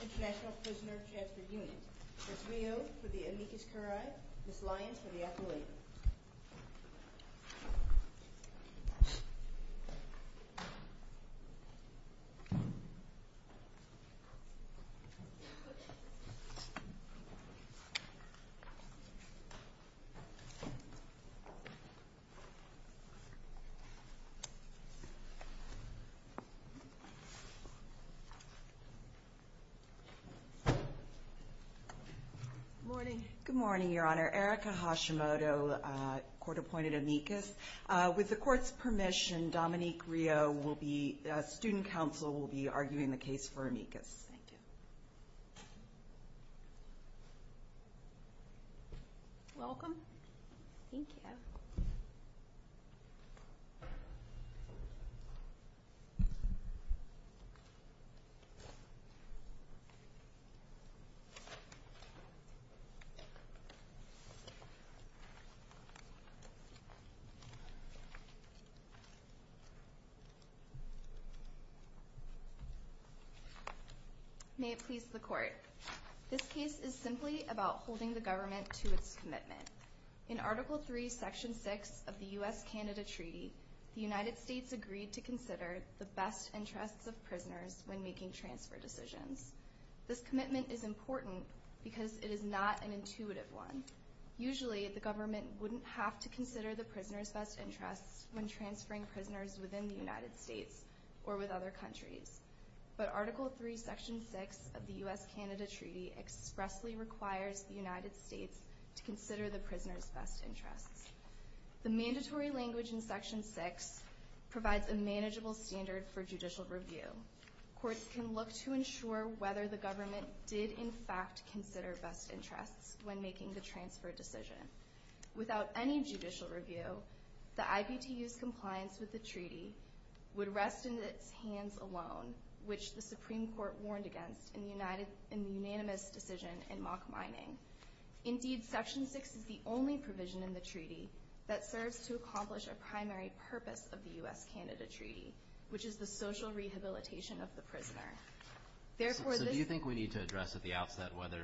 International Prisoner Transfer Unit. Ms. Rio for the amicus curiae, Ms. Lyons for the accolade. Good morning. Good morning, Your Honor. Erica Hashimoto, court-appointed amicus. With the court's permission, Dominique Rio will be, Student Council will be arguing the case for amicus. Thank you. May it please the court. This case is simply about holding the government to its commitment. In Article 3, Section 6 of the U.S.-Canada Treaty, the United States agreed to consider the best interests of prisoners when making transfer decisions. This commitment is important because it is not an intuitive one. Usually, the government wouldn't have to consider the prisoners' best interests when transferring prisoners within the United States or with other countries. But Article 3, Section 6 of the U.S.-Canada Treaty expressly requires the United States to consider the prisoners' best interests. The mandatory language in Section 6 provides a manageable standard for judicial review. Courts can look to ensure whether the government did, in fact, consider best interests when making the transfer decision. Without any judicial review, the IPTU's compliance with the treaty would rest in its hands alone, which the Supreme Court warned against in the unanimous decision in mock mining. Indeed, Section 6 is the only provision in the treaty that serves to accomplish a primary purpose of the U.S.-Canada Treaty, which is the social rehabilitation of the prisoner. So do you think we need to address at the outset whether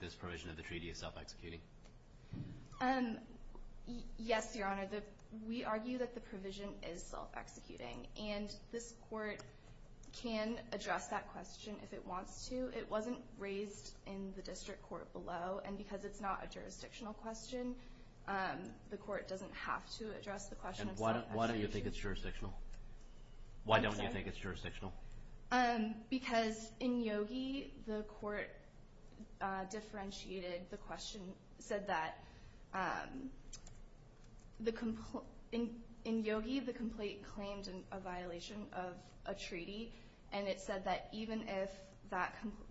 this provision of the treaty is self-executing? Yes, Your Honor. We argue that the provision is self-executing, and this court can address that question if it wants to. It wasn't raised in the district court below, and because it's not a jurisdictional question, the court doesn't have to address the question of self-execution. Why don't you think it's jurisdictional? Because in Yogi, the court differentiated the question, said that in Yogi, the complaint claimed a violation of a treaty, and it said that even if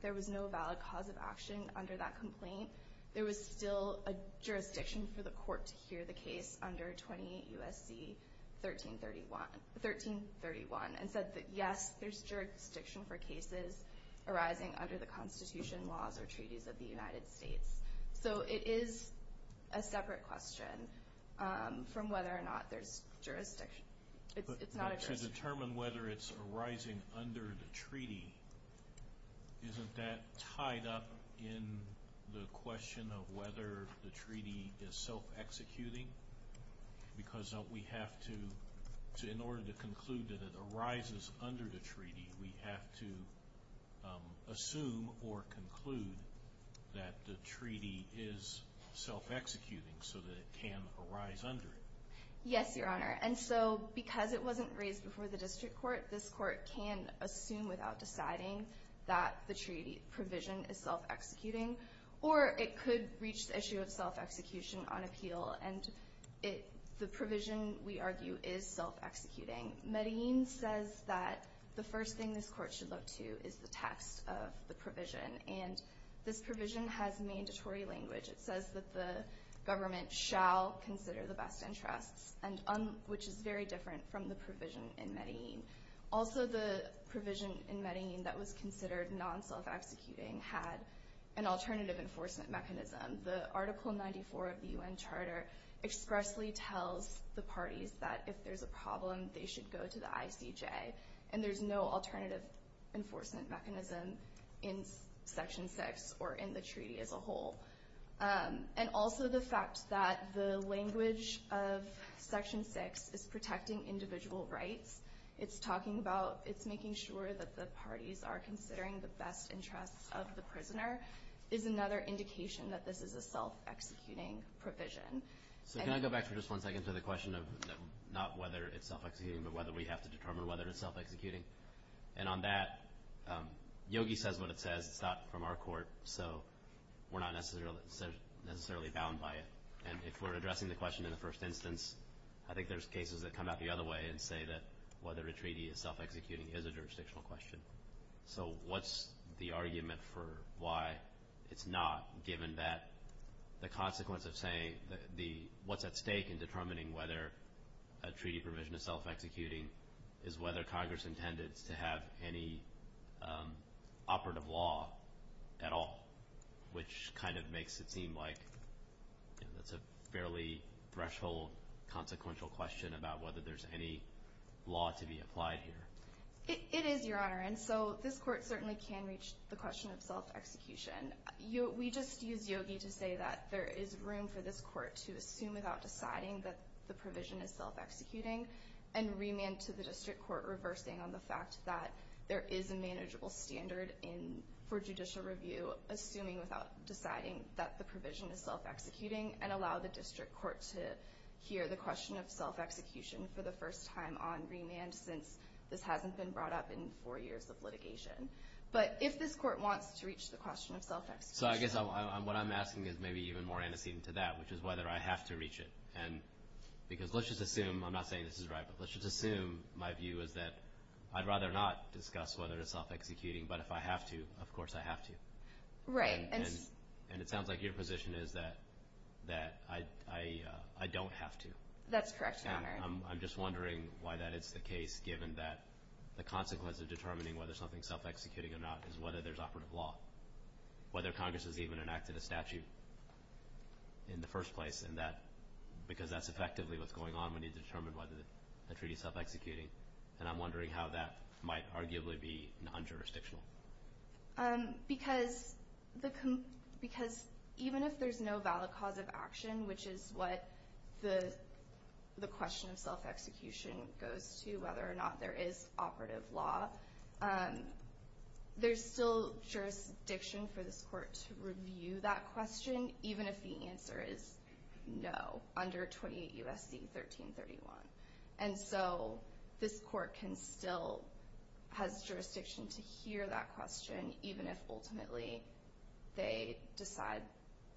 there was no valid cause of action under that complaint, there was still a jurisdiction for the court to hear the case under 28 U.S.C. 1331, and said that yes, there's jurisdiction for cases arising under the Constitution, laws, or treaties of the United States. So it is a separate question from whether or not there's jurisdiction. It's not a jurisdiction. So to determine whether it's arising under the treaty, isn't that tied up in the question of whether the treaty is self-executing? Because we have to, in order to conclude that it arises under the treaty, we have to assume or conclude that the treaty is self-executing so that it can arise under it. Yes, Your Honor. And so because it wasn't raised before the district court, this court can assume without deciding that the treaty provision is self-executing, or it could reach the issue of self-execution on appeal, and the provision, we argue, is self-executing. Medellin says that the first thing this court should look to is the text of the provision, and this provision has mandatory language. It says that the government shall consider the best interests, which is very different from the provision in Medellin. Also, the provision in Medellin that was considered non-self-executing had an alternative enforcement mechanism. The Article 94 of the UN Charter expressly tells the parties that if there's a problem, they should go to the ICJ, and there's no alternative enforcement mechanism in Section 6 or in the treaty as a whole. And also the fact that the language of Section 6 is protecting individual rights, it's talking about, it's making sure that the parties are considering the best interests of the prisoner, is another indication that this is a self-executing provision. So can I go back for just one second to the question of not whether it's self-executing, but whether we have to determine whether it's self-executing? And on that, Yogi says what it says. It's not from our court, so we're not necessarily bound by it. And if we're addressing the question in the first instance, I think there's cases that come out the other way and say that whether a treaty is self-executing is a jurisdictional question. So what's the argument for why it's not, given that the consequence of saying what's at stake in determining whether a treaty provision is self-executing is whether Congress intended to have any operative law at all, which kind of makes it seem like it's a fairly threshold consequential question about whether there's any law to be applied here. It is, Your Honor. And so this court certainly can reach the question of self-execution. We just used Yogi to say that there is room for this court to assume without deciding that the provision is self-executing, and remand to the district court reversing on the fact that there is a manageable standard for judicial review, assuming without deciding that the provision is self-executing, and allow the district court to hear the question of self-execution for the first time on remand, since this hasn't been brought up before. This hasn't been brought up in four years of litigation. But if this court wants to reach the question of self-execution... So I guess what I'm asking is maybe even more antecedent to that, which is whether I have to reach it. Because let's just assume, I'm not saying this is right, but let's just assume my view is that I'd rather not discuss whether it's self-executing, but if I have to, of course I have to. Right. And it sounds like your position is that I don't have to. That's correct, Your Honor. I'm just wondering why that is the case, given that the consequence of determining whether something is self-executing or not is whether there's operative law. Whether Congress has even enacted a statute in the first place, because that's effectively what's going on when you determine whether a treaty is self-executing. And I'm wondering how that might arguably be non-jurisdictional. Because even if there's no valid cause of action, which is what the question of self-execution goes to, whether or not there is operative law, there's still jurisdiction for this court to review that question, even if the answer is no, under 28 U.S.C. 1331. And so this court can still, has jurisdiction to hear that question, even if ultimately they decide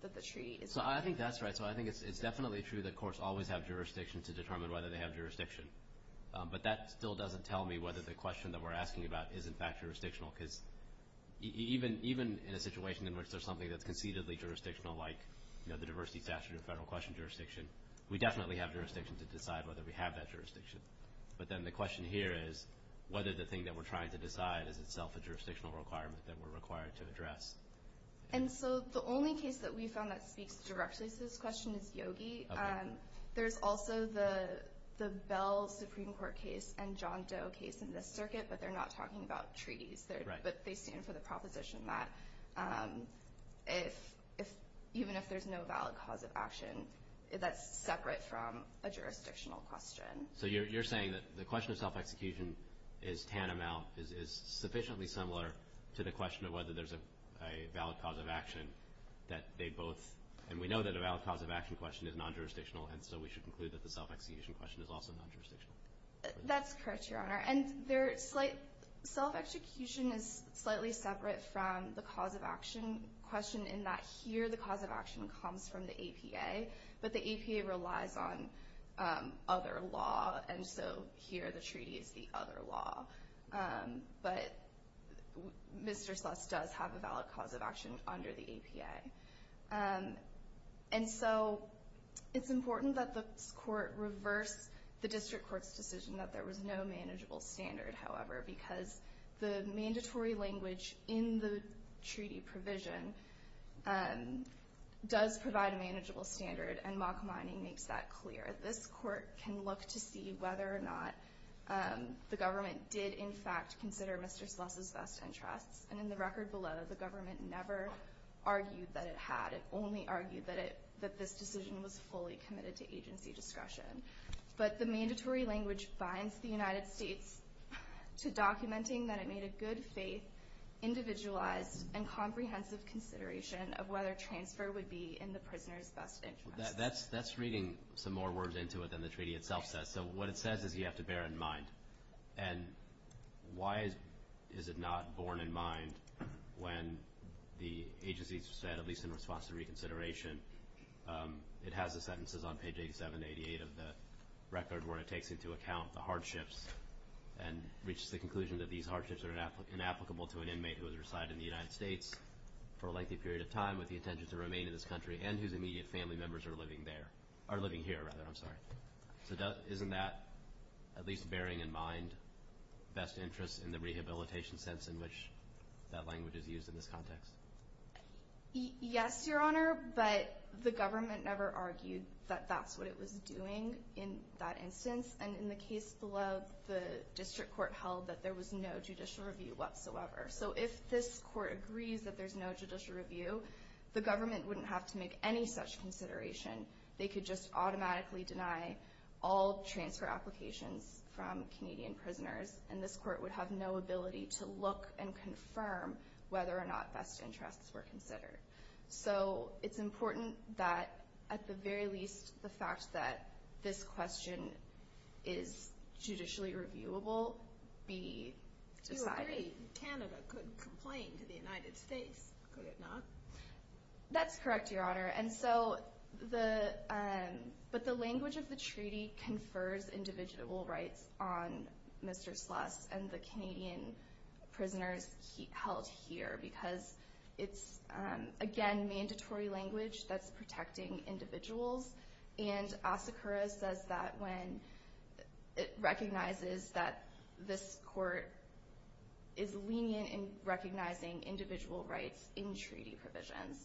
that the treaty is non-jurisdictional. I think that's right. So I think it's definitely true that courts always have jurisdiction to determine whether they have jurisdiction. But that still doesn't tell me whether the question that we're asking about is in fact jurisdictional, because even in a situation in which there's something that's concededly jurisdictional, like the diversity statute or federal question jurisdiction, we definitely have jurisdiction to decide whether we have that jurisdiction. But then the question here is whether the thing that we're trying to decide is itself a jurisdictional requirement that we're required to address. And so the only case that we found that speaks directly to this question is Yogi. Okay. There's also the Bell Supreme Court case and John Doe case in this circuit, but they're not talking about treaties. Right. But they stand for the proposition that even if there's no valid cause of action, that's separate from a jurisdictional question. So you're saying that the question of self-execution is tantamount, is sufficiently similar to the question of whether there's a valid cause of action that they both—and we know that a valid cause of action question is non-jurisdictional, and so we should conclude that the self-execution question is also non-jurisdictional. That's correct, Your Honor. And their self-execution is slightly separate from the cause of action question in that here the cause of action comes from the APA, but the APA relies on other law, and so here the treaty is the other law. But Mr. Sluss does have a valid cause of action under the APA. And so it's important that the court reverse the district court's decision that there was no manageable standard, however, because the mandatory language in the treaty provision does provide a manageable standard, and mock mining makes that clear. This court can look to see whether or not the government did, in fact, consider Mr. Sluss's best interests, and in the record below, the government never argued that it had. It only argued that this decision was fully committed to agency discretion. But the mandatory language binds the United States to documenting that it made a good-faith, individualized, and comprehensive consideration of whether transfer would be in the prisoner's best interest. That's reading some more words into it than the treaty itself says. So what it says is you have to bear in mind, and why is it not borne in mind when the agency said, at least in response to reconsideration, it has the sentences on page 87 to 88 of the record where it takes into account the hardships and reaches the conclusion that these hardships are inapplicable to an inmate who has resided in the United States for a lengthy period of time with the intention to remain in this country, and whose immediate family members are living there. Or living here, rather, I'm sorry. So isn't that, at least bearing in mind best interests in the rehabilitation sense in which that language is used in this context? Yes, Your Honor, but the government never argued that that's what it was doing in that instance. And in the case below, the district court held that there was no judicial review whatsoever. So if this court agrees that there's no judicial review, the government wouldn't have to make any such consideration. They could just automatically deny all transfer applications from Canadian prisoners, and this court would have no ability to look and confirm whether or not best interests were considered. So it's important that, at the very least, the fact that this question is judicially reviewable be decided. Canada could complain to the United States, could it not? That's correct, Your Honor. But the language of the treaty confers indivisible rights on Mr. Sluss and the Canadian prisoners held here, because it's, again, mandatory language that's protecting individuals. And Asakura says that when it recognizes that this court is lenient in recognizing individual rights in treaty provisions.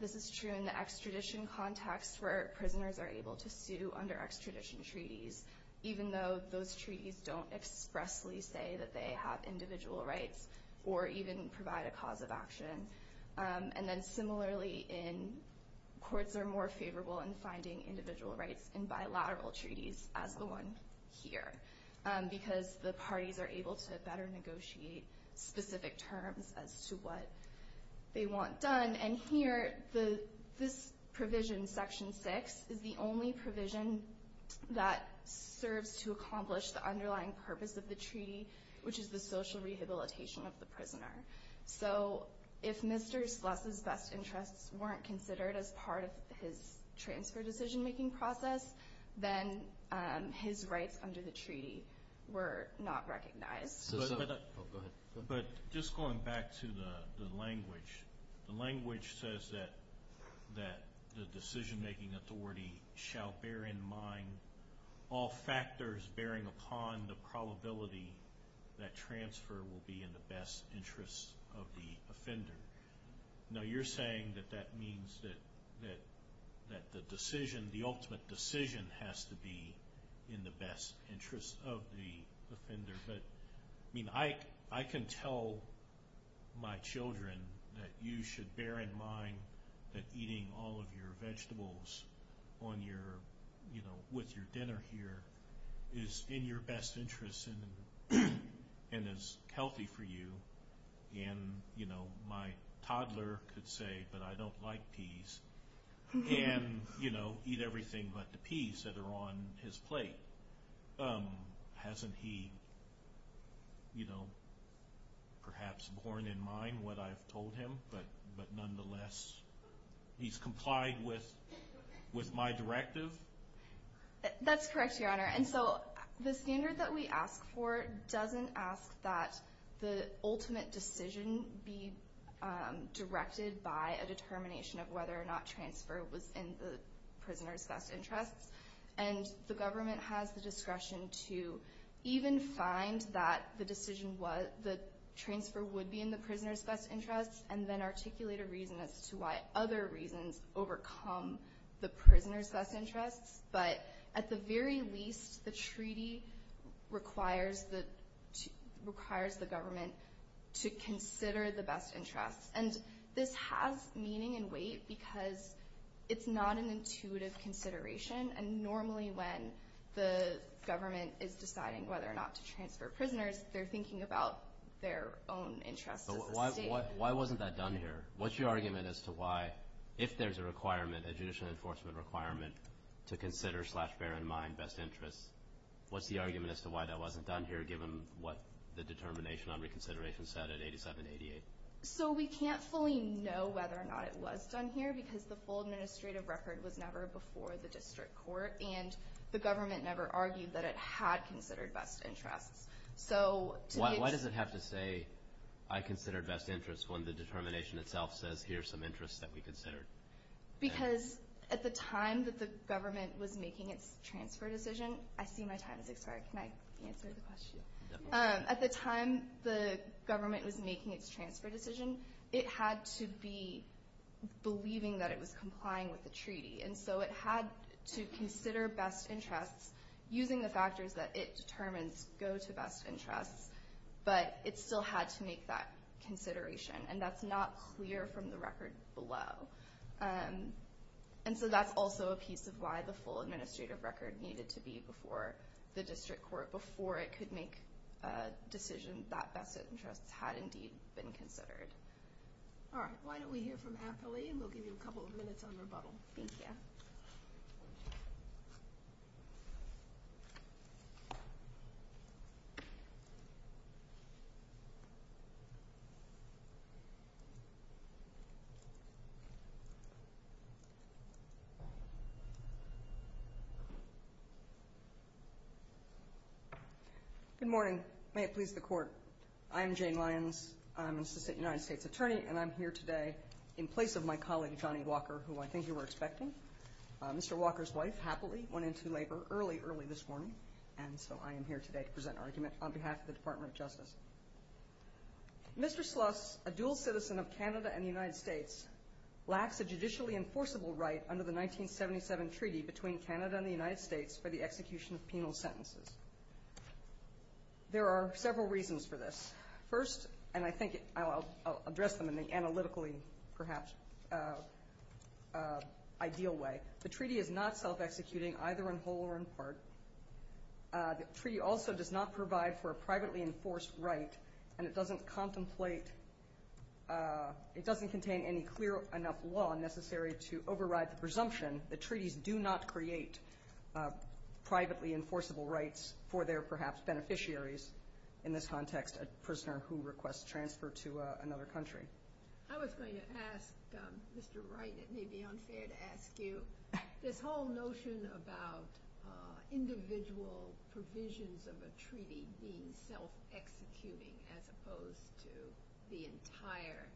This is true in the extradition context where prisoners are able to sue under extradition treaties, even though those treaties don't expressly say that they have individual rights or even provide a cause of action. And then similarly, courts are more favorable in finding individual rights in bilateral treaties as the one here, because the parties are able to better negotiate specific terms as to what they want done. And here, this provision, Section 6, is the only provision that serves to accomplish the underlying purpose of the treaty, which is the social rehabilitation of the prisoner. So if Mr. Sluss's best interests weren't considered as part of his transfer decision-making process, then his rights under the treaty were not recognized. But just going back to the language, the language says that the decision-making authority shall bear in mind all factors bearing upon the probability that transfer will be in the best interest of the offender. Now, you're saying that that means that the decision, the ultimate decision, has to be in the best interest of the offender. But, I mean, I can tell my children that you should bear in mind that eating all of your vegetables on your, you know, with your dinner here is in your best interest and is healthy for you. And, you know, my toddler could say, but I don't like peas. And, you know, eat everything but the peas that are on his plate. Hasn't he, you know, perhaps borne in mind what I've told him? But nonetheless, he's complied with my directive? That's correct, Your Honor. And so the standard that we ask for doesn't ask that the ultimate decision be directed by a determination of whether or not transfer was in the prisoner's best interests. And the government has the discretion to even find that the decision was, the transfer would be in the prisoner's best interests, and then articulate a reason as to why other reasons overcome the prisoner's best interests. But at the very least, the treaty requires the government to consider the best interests. And this has meaning and weight because it's not an intuitive consideration. And normally when the government is deciding whether or not to transfer prisoners, they're thinking about their own interests as a state. But why wasn't that done here? What's your argument as to why, if there's a requirement, a judicial enforcement requirement, to consider slash bear in mind best interests, what's the argument as to why that wasn't done here given what the determination on reconsideration said at 87-88? So we can't fully know whether or not it was done here because the full administrative record was never before the district court, and the government never argued that it had considered best interests. Why does it have to say, I considered best interests, when the determination itself says here are some interests that we considered? Because at the time that the government was making its transfer decision, I see my time has expired. Can I answer the question? At the time the government was making its transfer decision, it had to be believing that it was complying with the treaty. And so it had to consider best interests using the factors that it determines go to best interests, but it still had to make that consideration. And that's not clear from the record below. And so that's also a piece of why the full administrative record needed to be before the district court, before it could make a decision that best interests had indeed been considered. All right. Why don't we hear from Appley, and we'll give you a couple of minutes on rebuttal. Thank you. Good morning. May it please the Court. I am Jane Lyons. I'm an assistant United States attorney, and I'm here today in place of my colleague, Johnny Walker, who I think you were expecting. Mr. Walker's wife, Happily, went into labor early, early this morning, and so I am here today to present an argument on behalf of the Department of Justice. Mr. Sluss, a dual citizen of Canada and the United States, lacks a judicially enforceable right under the 1977 treaty between Canada and the United States for the execution of penal sentences. There are several reasons for this. First, and I think I'll address them in the analytically, perhaps, ideal way, the treaty is not self-executing either in whole or in part. The treaty also does not provide for a privately enforced right, and it doesn't contemplate, it doesn't contain any clear enough law necessary to override the presumption that treaties do not create privately enforceable rights for their, perhaps, beneficiaries. In this context, a prisoner who requests transfer to another country. I was going to ask Mr. Wright, it may be unfair to ask you, this whole notion about individual provisions of a treaty being self-executing as opposed to the entire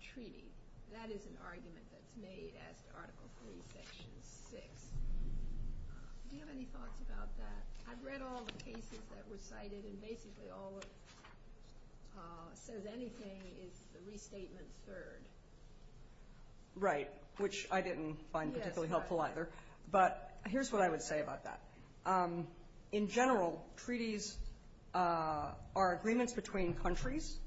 treaty, that is an argument that's made as to Article III, Section 6. Do you have any thoughts about that? I've read all the cases that were cited, and basically all that says anything is the restatement's third. Right, which I didn't find particularly helpful either. But here's what I would say about that. In general, treaties are agreements between countries,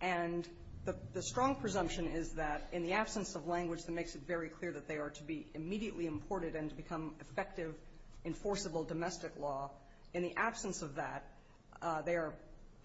and the strong presumption is that in the absence of language that makes it very clear that they are to be immediately imported and to become effective, enforceable domestic law, in the absence of that, they are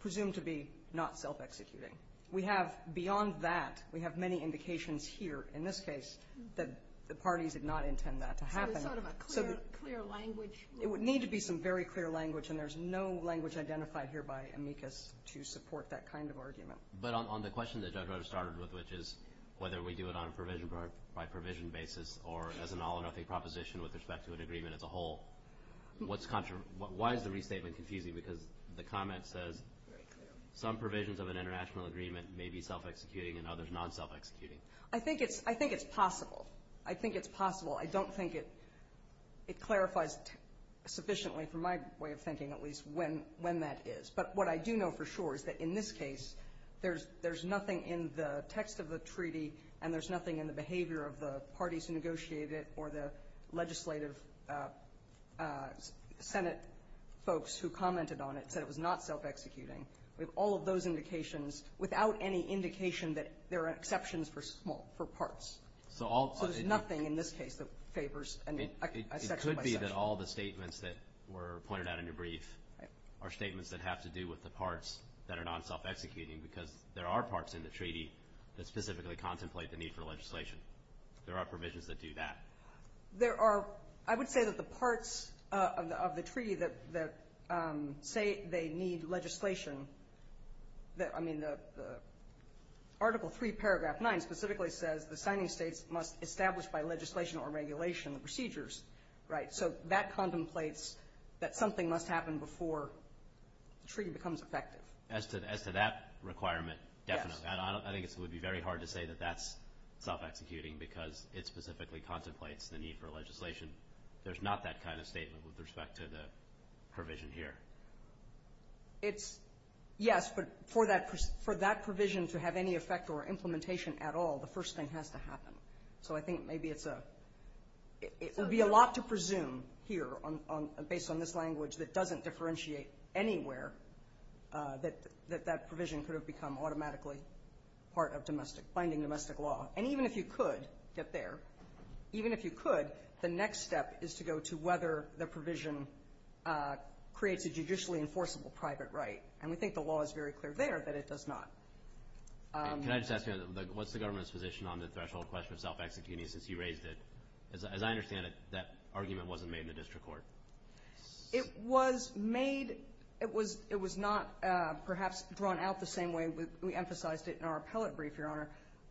presumed to be not self-executing. We have, beyond that, we have many indications here in this case that the parties did not intend that to happen. So it's sort of a clear, clear language. It would need to be some very clear language, and there's no language identified here by amicus to support that kind of argument. But on the question that Judge Rogers started with, which is whether we do it on a provision-by-provision basis or as an all-or-nothing proposition with respect to an agreement as a whole, why is the restatement confusing? Because the comment says some provisions of an international agreement may be self-executing and others non-self-executing. I think it's possible. I think it's possible. I don't think it clarifies sufficiently, from my way of thinking at least, when that is. But what I do know for sure is that in this case, there's nothing in the text of the treaty and there's nothing in the behavior of the parties who negotiated it or the legislative Senate folks who commented on it said it was not self-executing. We have all of those indications without any indication that there are exceptions for small, for parts. So there's nothing in this case that favors a section-by-section. It could be that all the statements that were pointed out in your brief are statements that have to do with the parts that are non-self-executing because there are parts in the treaty that specifically contemplate the need for legislation. There are provisions that do that. There are. I would say that the parts of the treaty that say they need legislation, I mean, Article III, Paragraph 9, specifically says the signing states must establish by legislation or regulation the procedures, right? So that contemplates that something must happen before the treaty becomes effective. As to that requirement, definitely. I think it would be very hard to say that that's self-executing because it specifically contemplates the need for legislation. There's not that kind of statement with respect to the provision here. It's, yes, but for that provision to have any effect or implementation at all, the first thing has to happen. So I think maybe it's a, it would be a lot to presume here based on this language that doesn't differentiate anywhere that that provision could have become automatically part of domestic, finding domestic law. And even if you could get there, even if you could, the next step is to go to whether the provision creates a judicially enforceable private right. And we think the law is very clear there that it does not. Can I just ask you, what's the government's position on the threshold question of self-executing since you raised it? As I understand it, that argument wasn't made in the district court. It was made, it was not perhaps drawn out the same way we emphasized it in our appellate brief, Your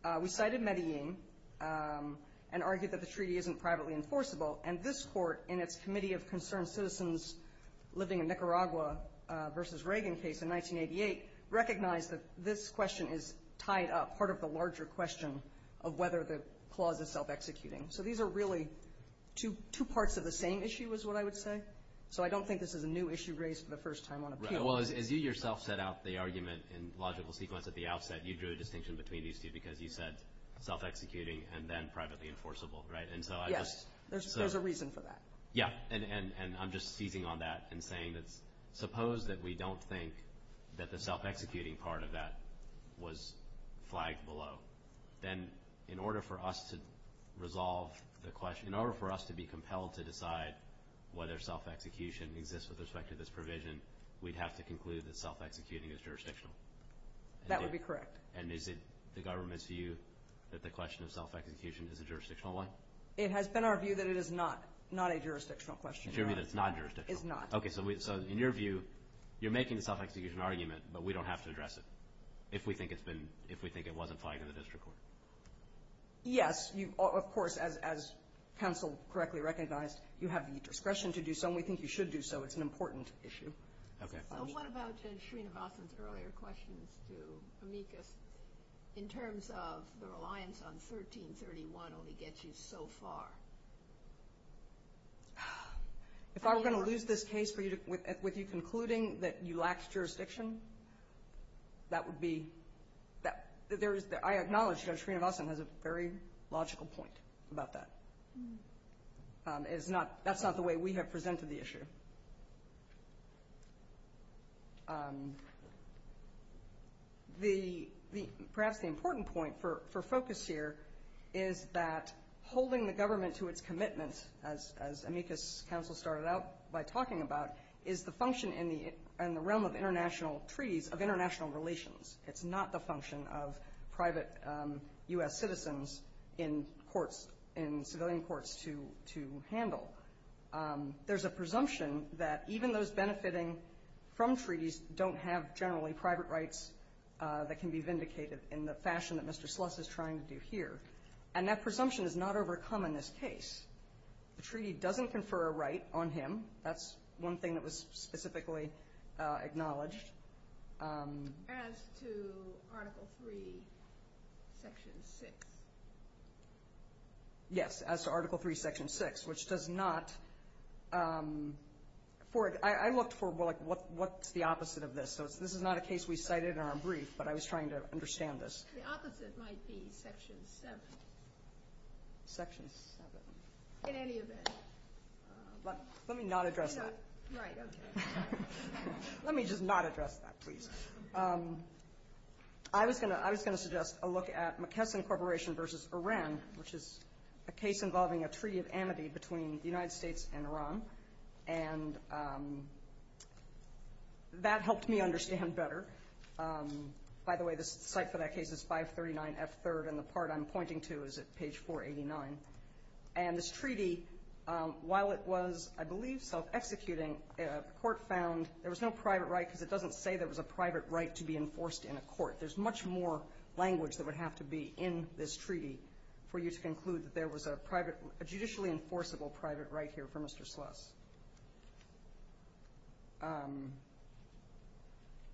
Honor. We cited Medellin and argued that the treaty isn't privately enforceable, and this court in its Committee of Concerned Citizens living in Nicaragua versus Reagan case in 1988 recognized that this question is tied up, part of the larger question of whether the clause is self-executing. So these are really two parts of the same issue is what I would say. So I don't think this is a new issue raised for the first time on appeal. Right. Well, as you yourself set out the argument in logical sequence at the outset, you drew a distinction between these two because you said self-executing and then privately enforceable, right? Yes. There's a reason for that. Yeah. And I'm just seizing on that and saying that suppose that we don't think that the self-executing part of that was flagged below, then in order for us to resolve the question, in order for us to be compelled to decide whether self-execution exists with respect to this provision, we'd have to conclude that self-executing is jurisdictional. That would be correct. And is it the government's view that the question of self-execution is a jurisdictional one? It has been our view that it is not a jurisdictional question. It's your view that it's not jurisdictional? It's not. Okay. So in your view, you're making the self-execution argument, but we don't have to address it if we think it wasn't flagged in the district court? Yes. Of course, as counsel correctly recognized, you have the discretion to do so and we think you should do so. It's an important issue. Okay. So what about Judge Srinivasan's earlier questions to Amicus, in terms of the reliance on 1331 only gets you so far? If I were going to lose this case with you concluding that you lacked jurisdiction, that would be, I acknowledge Judge Srinivasan has a very logical point about that. That's not the way we have presented the issue. Perhaps the important point for focus here is that holding the government to its commitment, as Amicus counsel started out by talking about, is the function in the realm of international treaties of international relations. It's not the function of private U.S. citizens in courts, in civilian courts to handle. There's a presumption that even those benefiting from treaties don't have generally private rights that can be vindicated in the fashion that Mr. Sluss is trying to do here. And that presumption is not overcome in this case. The treaty doesn't confer a right on him. That's one thing that was specifically acknowledged. As to Article III, Section 6? Yes, as to Article III, Section 6, which does not, I looked for what's the opposite of this. This is not a case we cited in our brief, but I was trying to understand this. The opposite might be Section 7. Section 7. In any event. Let me not address that. Right, okay. Let me just not address that, please. I was going to suggest a look at McKesson Corporation versus Iran, which is a case involving a treaty of amity between the United States and Iran. And that helped me understand better. By the way, the site for that case is 539F3rd, and the part I'm pointing to is at page 489. And this treaty, while it was, I believe, self-executing, the court found there was no private right because it doesn't say there was a private right to be enforced in a court. There's much more language that would have to be in this treaty for you to conclude that there was a private, a judicially enforceable private right here for Mr. Sluss.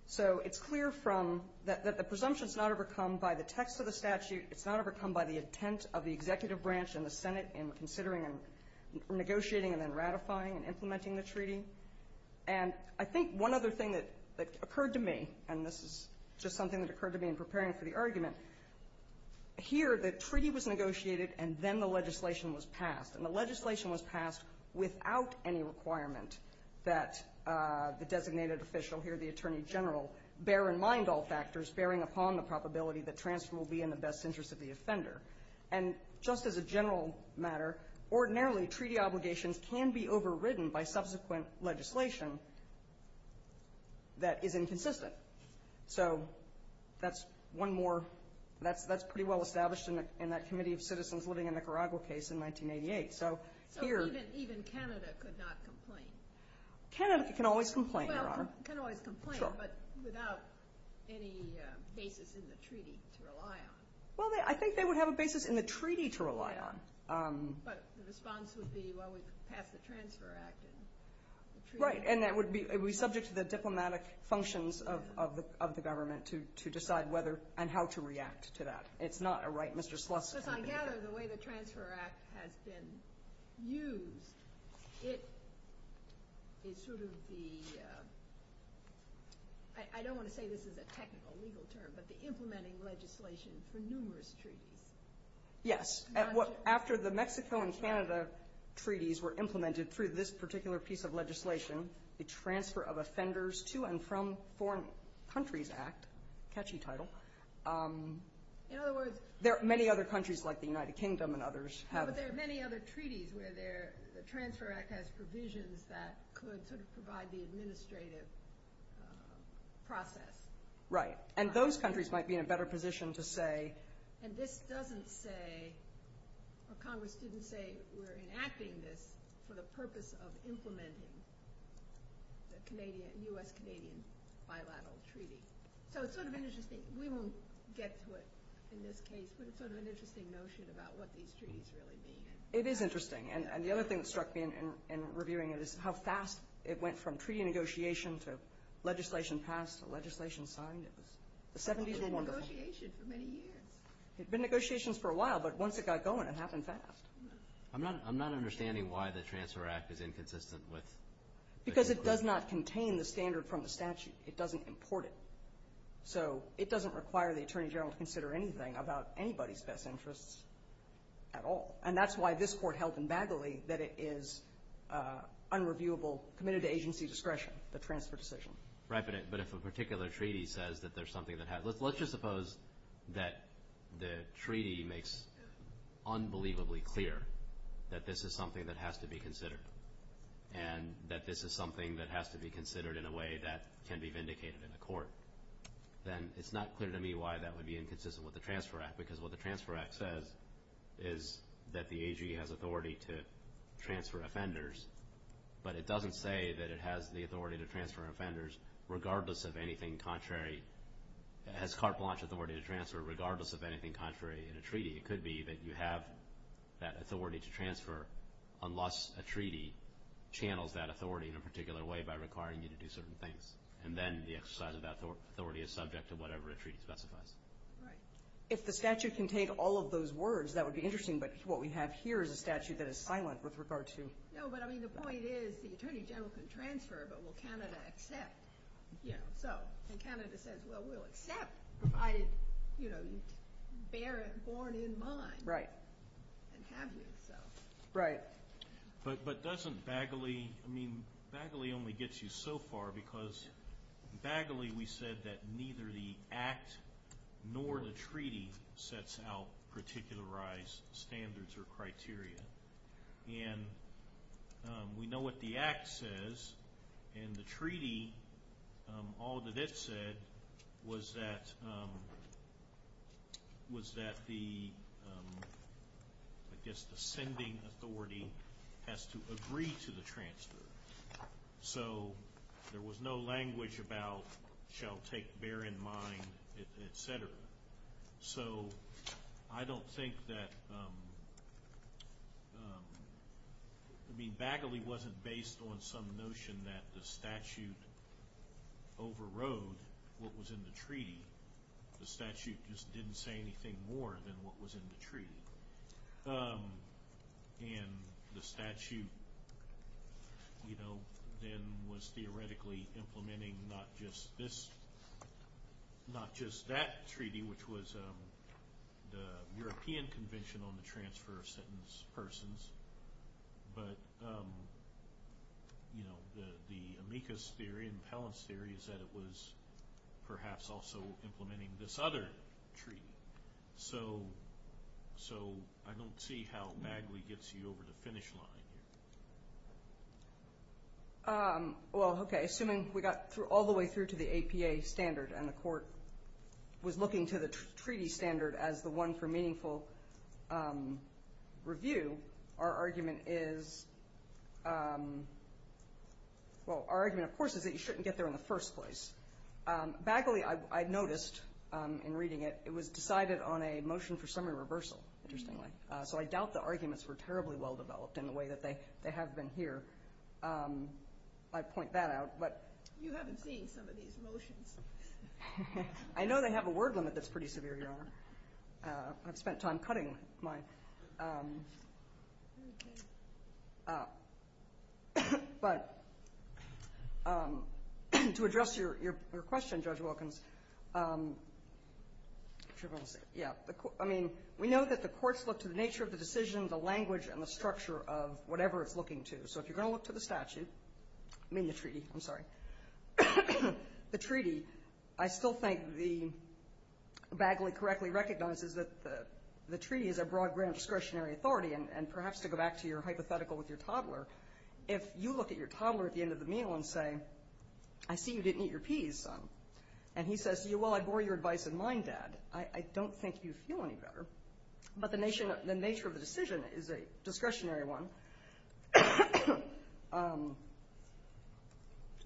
So it's clear from, that the presumption is not overcome by the text of the statute. It's not overcome by the intent of the executive branch and the Senate in considering and negotiating and then ratifying and implementing the treaty. And I think one other thing that occurred to me, and this is just something that occurred to me in preparing for the argument, here the treaty was negotiated and then the legislation was passed. And the legislation was passed without any requirement that the designated official here, the attorney general, bear in mind all factors bearing upon the probability that transfer will be in the best interest of the offender. And just as a general matter, ordinarily treaty obligations can be overridden by subsequent legislation that is inconsistent. So that's one more, that's pretty well established in that committee of citizens living in Nicaragua case in 1988. So here- So even Canada could not complain? Canada can always complain, Your Honor. Well, can always complain. Sure. But without any basis in the treaty to rely on. Well, I think they would have a basis in the treaty to rely on. But the response would be, well, we passed the Transfer Act. Right. And that would be subject to the diplomatic functions of the government to decide whether and how to react to that. It's not a right Mr. Sluss- Because I gather the way the Transfer Act has been used, it is sort of the, I don't want to say this is a technical legal term, but the implementing legislation for numerous treaties. Yes. After the Mexico and Canada treaties were implemented through this particular piece of legislation, the Transfer of Offenders to and from Foreign Countries Act, catchy title. In other words- There are many other countries like the United Kingdom and others have- No, but there are many other treaties where the Transfer Act has provisions that could sort of provide the administrative process. Right. And those countries might be in a better position to say- And this doesn't say, or Congress didn't say we're enacting this for the purpose of implementing the U.S.-Canadian bilateral treaty. So it's sort of interesting. We won't get to it in this case, but it's sort of an interesting notion about what these treaties really mean. It is interesting. And the other thing that struck me in reviewing it is how fast it went from treaty negotiation to legislation passed to legislation signed. The 70s were wonderful. It's been in negotiation for many years. It's been in negotiations for a while, but once it got going it happened fast. I'm not understanding why the Transfer Act is inconsistent with- Because it does not contain the standard from the statute. It doesn't import it. So it doesn't require the Attorney General to consider anything about anybody's best interests at all. And that's why this Court held in Bagley that it is unreviewable, committed to agency discretion, the transfer decision. Right, but if a particular treaty says that there's something that has- Let's just suppose that the treaty makes unbelievably clear that this is something that has to be considered, and that this is something that has to be considered in a way that can be vindicated in a court. Then it's not clear to me why that would be inconsistent with the Transfer Act, because what the Transfer Act says is that the AG has authority to transfer offenders, but it doesn't say that it has the authority to transfer offenders regardless of anything contrary. Has carte blanche authority to transfer regardless of anything contrary in a treaty? It could be that you have that authority to transfer unless a treaty channels that authority in a particular way by requiring you to do certain things. And then the exercise of that authority is subject to whatever a treaty specifies. Right. If the statute contained all of those words, that would be interesting, but what we have here is a statute that is silent with regard to- No, but I mean the point is the Attorney General can transfer, but will Canada accept? Yeah. So, and Canada says, well, we'll accept provided you bear it born in mind. Right. And have yourself. Right. But doesn't Bagley- I mean, Bagley only gets you so far because Bagley, we said that neither the act nor the treaty sets out particularized standards or criteria. And we know what the act says, and the treaty, all that it said was that the, I guess, the sending authority has to agree to the transfer. So there was no language about shall take bear in mind, et cetera. So I don't think that, I mean, Bagley wasn't based on some notion that the statute overrode what was in the treaty. The statute just didn't say anything more than what was in the treaty. And the statute, you know, then was theoretically implementing not just this, not just that treaty, which was the European Convention on the Transfer of Sentenced Persons. But, you know, the amicus theory, impellus theory is that it was perhaps also implementing this other treaty. So I don't see how Bagley gets you over the finish line. Well, okay, assuming we got all the way through to the APA standard and the court was looking to the treaty standard as the one for meaningful review, our argument is, well, our argument, of course, is that you shouldn't get there in the first place. Bagley, I noticed in reading it, it was decided on a motion for summary reversal, interestingly. So I doubt the arguments were terribly well-developed in the way that they have been here. I'd point that out. You haven't seen some of these motions. I know they have a word limit that's pretty severe, Your Honor. I've spent time cutting mine. But to address your question, Judge Wilkins, I mean, we know that the courts look to the nature of the decision, the language, and the structure of whatever it's looking to. So if you're going to look to the statute, I mean the treaty, I'm sorry, the treaty, I still think Bagley correctly recognizes that the treaty is a broad grant of discretionary authority. And perhaps to go back to your hypothetical with your toddler, if you look at your toddler at the end of the meal and say, I see you didn't eat your peas, son. And he says, well, I bore your advice in mind, Dad. I don't think you feel any better. But the nature of the decision is a discretionary one.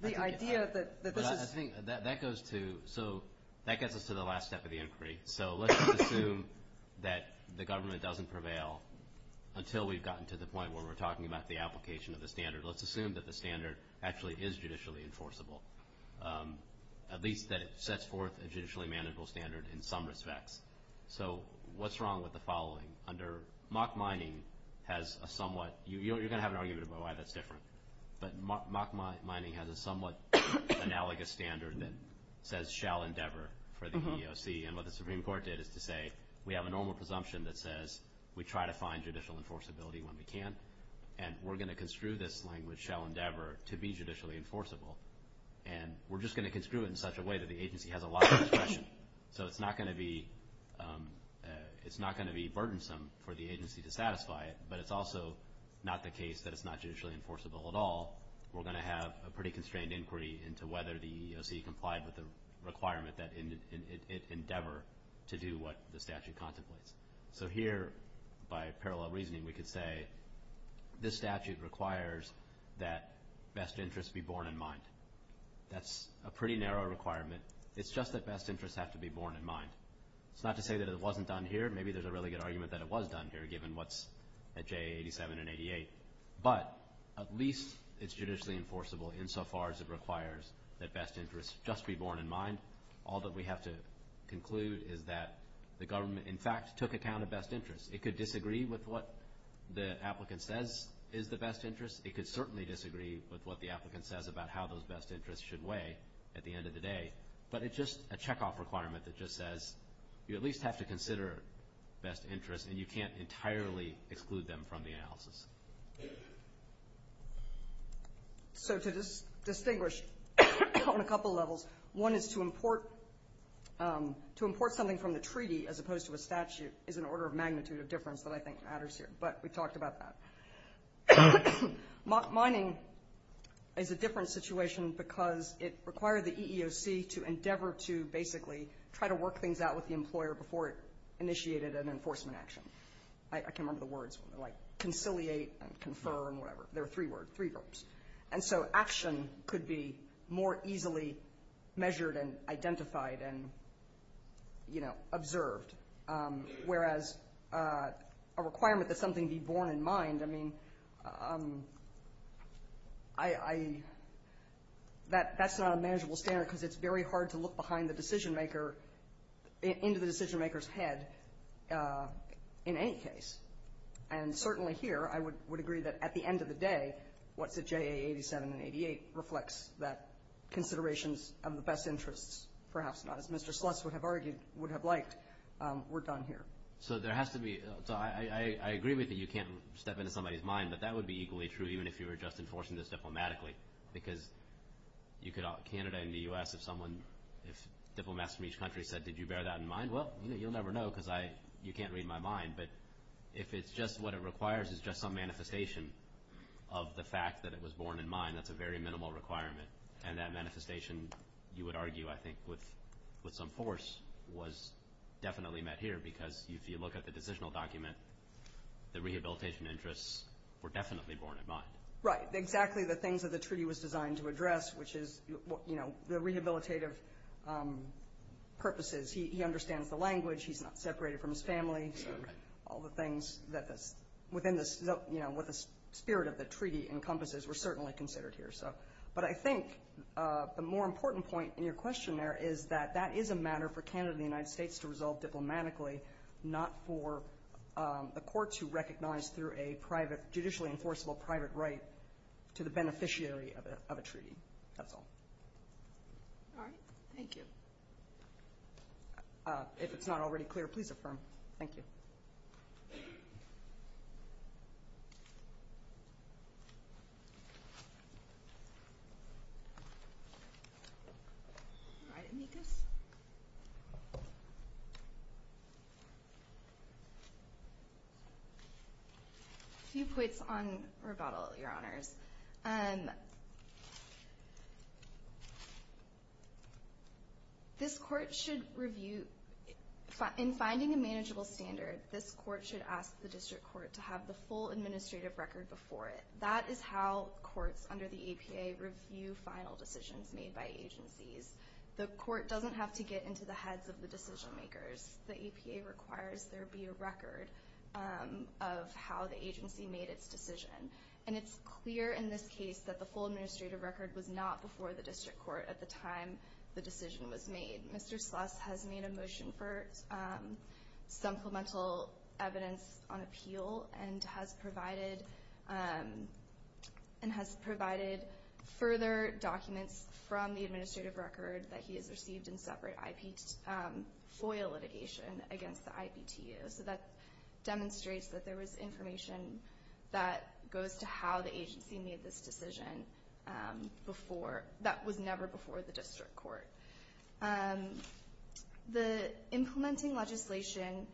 The idea that this is – I think that goes to – so that gets us to the last step of the inquiry. So let's assume that the government doesn't prevail until we've gotten to the point where we're talking about the application of the standard. Let's assume that the standard actually is judicially enforceable, at least that it sets forth a judicially manageable standard in some respects. So what's wrong with the following? Under mock mining has a somewhat – you're going to have an argument about why that's different. But mock mining has a somewhat analogous standard that says shall endeavor for the EEOC. And what the Supreme Court did is to say we have a normal presumption that says we try to find judicial enforceability when we can. And we're going to construe this language shall endeavor to be judicially enforceable. And we're just going to construe it in such a way that the agency has a lot of discretion. So it's not going to be burdensome for the agency to satisfy it, but it's also not the case that it's not judicially enforceable at all. We're going to have a pretty constrained inquiry into whether the EEOC complied with the requirement that it endeavor to do what the statute contemplates. So here, by parallel reasoning, we could say this statute requires that best interests be borne in mind. That's a pretty narrow requirement. It's just that best interests have to be borne in mind. It's not to say that it wasn't done here. Maybe there's a really good argument that it was done here given what's at JA 87 and 88. But at least it's judicially enforceable insofar as it requires that best interests just be borne in mind. All that we have to conclude is that the government, in fact, took account of best interests. It could disagree with what the applicant says is the best interest. It could certainly disagree with what the applicant says about how those best interests should weigh at the end of the day. But it's just a checkoff requirement that just says you at least have to consider best interests, and you can't entirely exclude them from the analysis. So to distinguish on a couple levels, one is to import something from the treaty as opposed to a statute is an order of magnitude of difference that I think matters here, but we talked about that. Mining is a different situation because it required the EEOC to endeavor to basically try to work things out with the employer before it initiated an enforcement action. I can't remember the words, like conciliate and confer and whatever. There are three words, three verbs. And so action could be more easily measured and identified and, you know, observed, whereas a requirement that something be borne in mind, I mean, that's not a manageable standard because it's very hard to look behind the decision-maker, into the decision-maker's head in any case. And certainly here, I would agree that at the end of the day, what's at JA 87 and 88 reflects that considerations of the best interests, perhaps not as Mr. Sluss would have argued, would have liked, were done here. So there has to be – so I agree with you, you can't step into somebody's mind, but that would be equally true even if you were just enforcing this diplomatically because you could – Canada and the U.S., if someone – if diplomats from each country said, did you bear that in mind, well, you'll never know because I – you can't read my mind. But if it's just what it requires is just some manifestation of the fact that it was borne in mind, that's a very minimal requirement. And that manifestation, you would argue, I think, with some force was definitely met here because if you look at the decisional document, the rehabilitation interests were definitely borne in mind. Right, exactly the things that the treaty was designed to address, which is, you know, the rehabilitative purposes. He understands the language, he's not separated from his family, so all the things that's within the – you know, what the spirit of the treaty encompasses were certainly considered here. But I think the more important point in your question there is that that is a matter for Canada and the United States to resolve diplomatically, not for a court to recognize through a private – judicially enforceable private right to the beneficiary of a treaty. That's all. All right. Thank you. If it's not already clear, please affirm. Thank you. All right, amicus. A few points on rebuttal, Your Honours. This court should review – in finding a manageable standard, this court should ask the district court to have the full administrative record before it. That is how courts under the APA review final decisions made by agencies. The court doesn't have to get into the heads of the decision makers. The APA requires there be a record of how the agency made its decision. And it's clear in this case that the full administrative record was not before the district court at the time the decision was made. Mr. Sluss has made a motion for supplemental evidence on appeal and has provided further documents from the administrative record that he has received in separate FOIA litigation against the IPTU. So that demonstrates that there was information that goes to how the agency made this decision before – that was never before the district court. The implementing legislation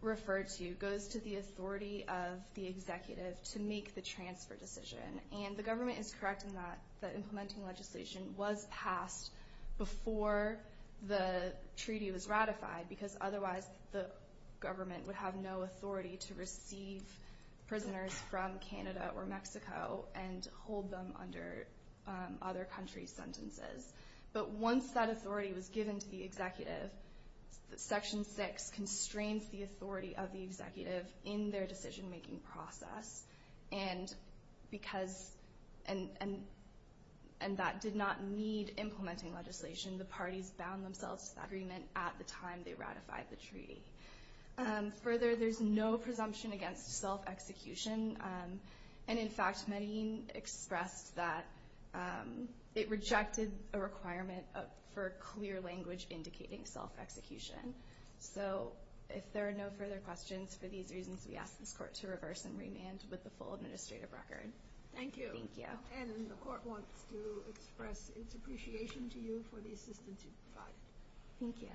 referred to goes to the authority of the executive to make the transfer decision. And the government is correct in that the implementing legislation was passed before the treaty was ratified because otherwise the government would have no authority to receive prisoners from Canada or Mexico and hold them under other countries' sentences. But once that authority was given to the executive, Section 6 constrains the authority of the executive in their decision-making process. And because – and that did not need implementing legislation. The parties bound themselves to the agreement at the time they ratified the treaty. Further, there's no presumption against self-execution. And in fact, Medellin expressed that it rejected a requirement for clear language indicating self-execution. So if there are no further questions, for these reasons, we ask this court to reverse and remand with the full administrative record. Thank you. And the court wants to express its appreciation to you for the assistance you've provided. Thank you.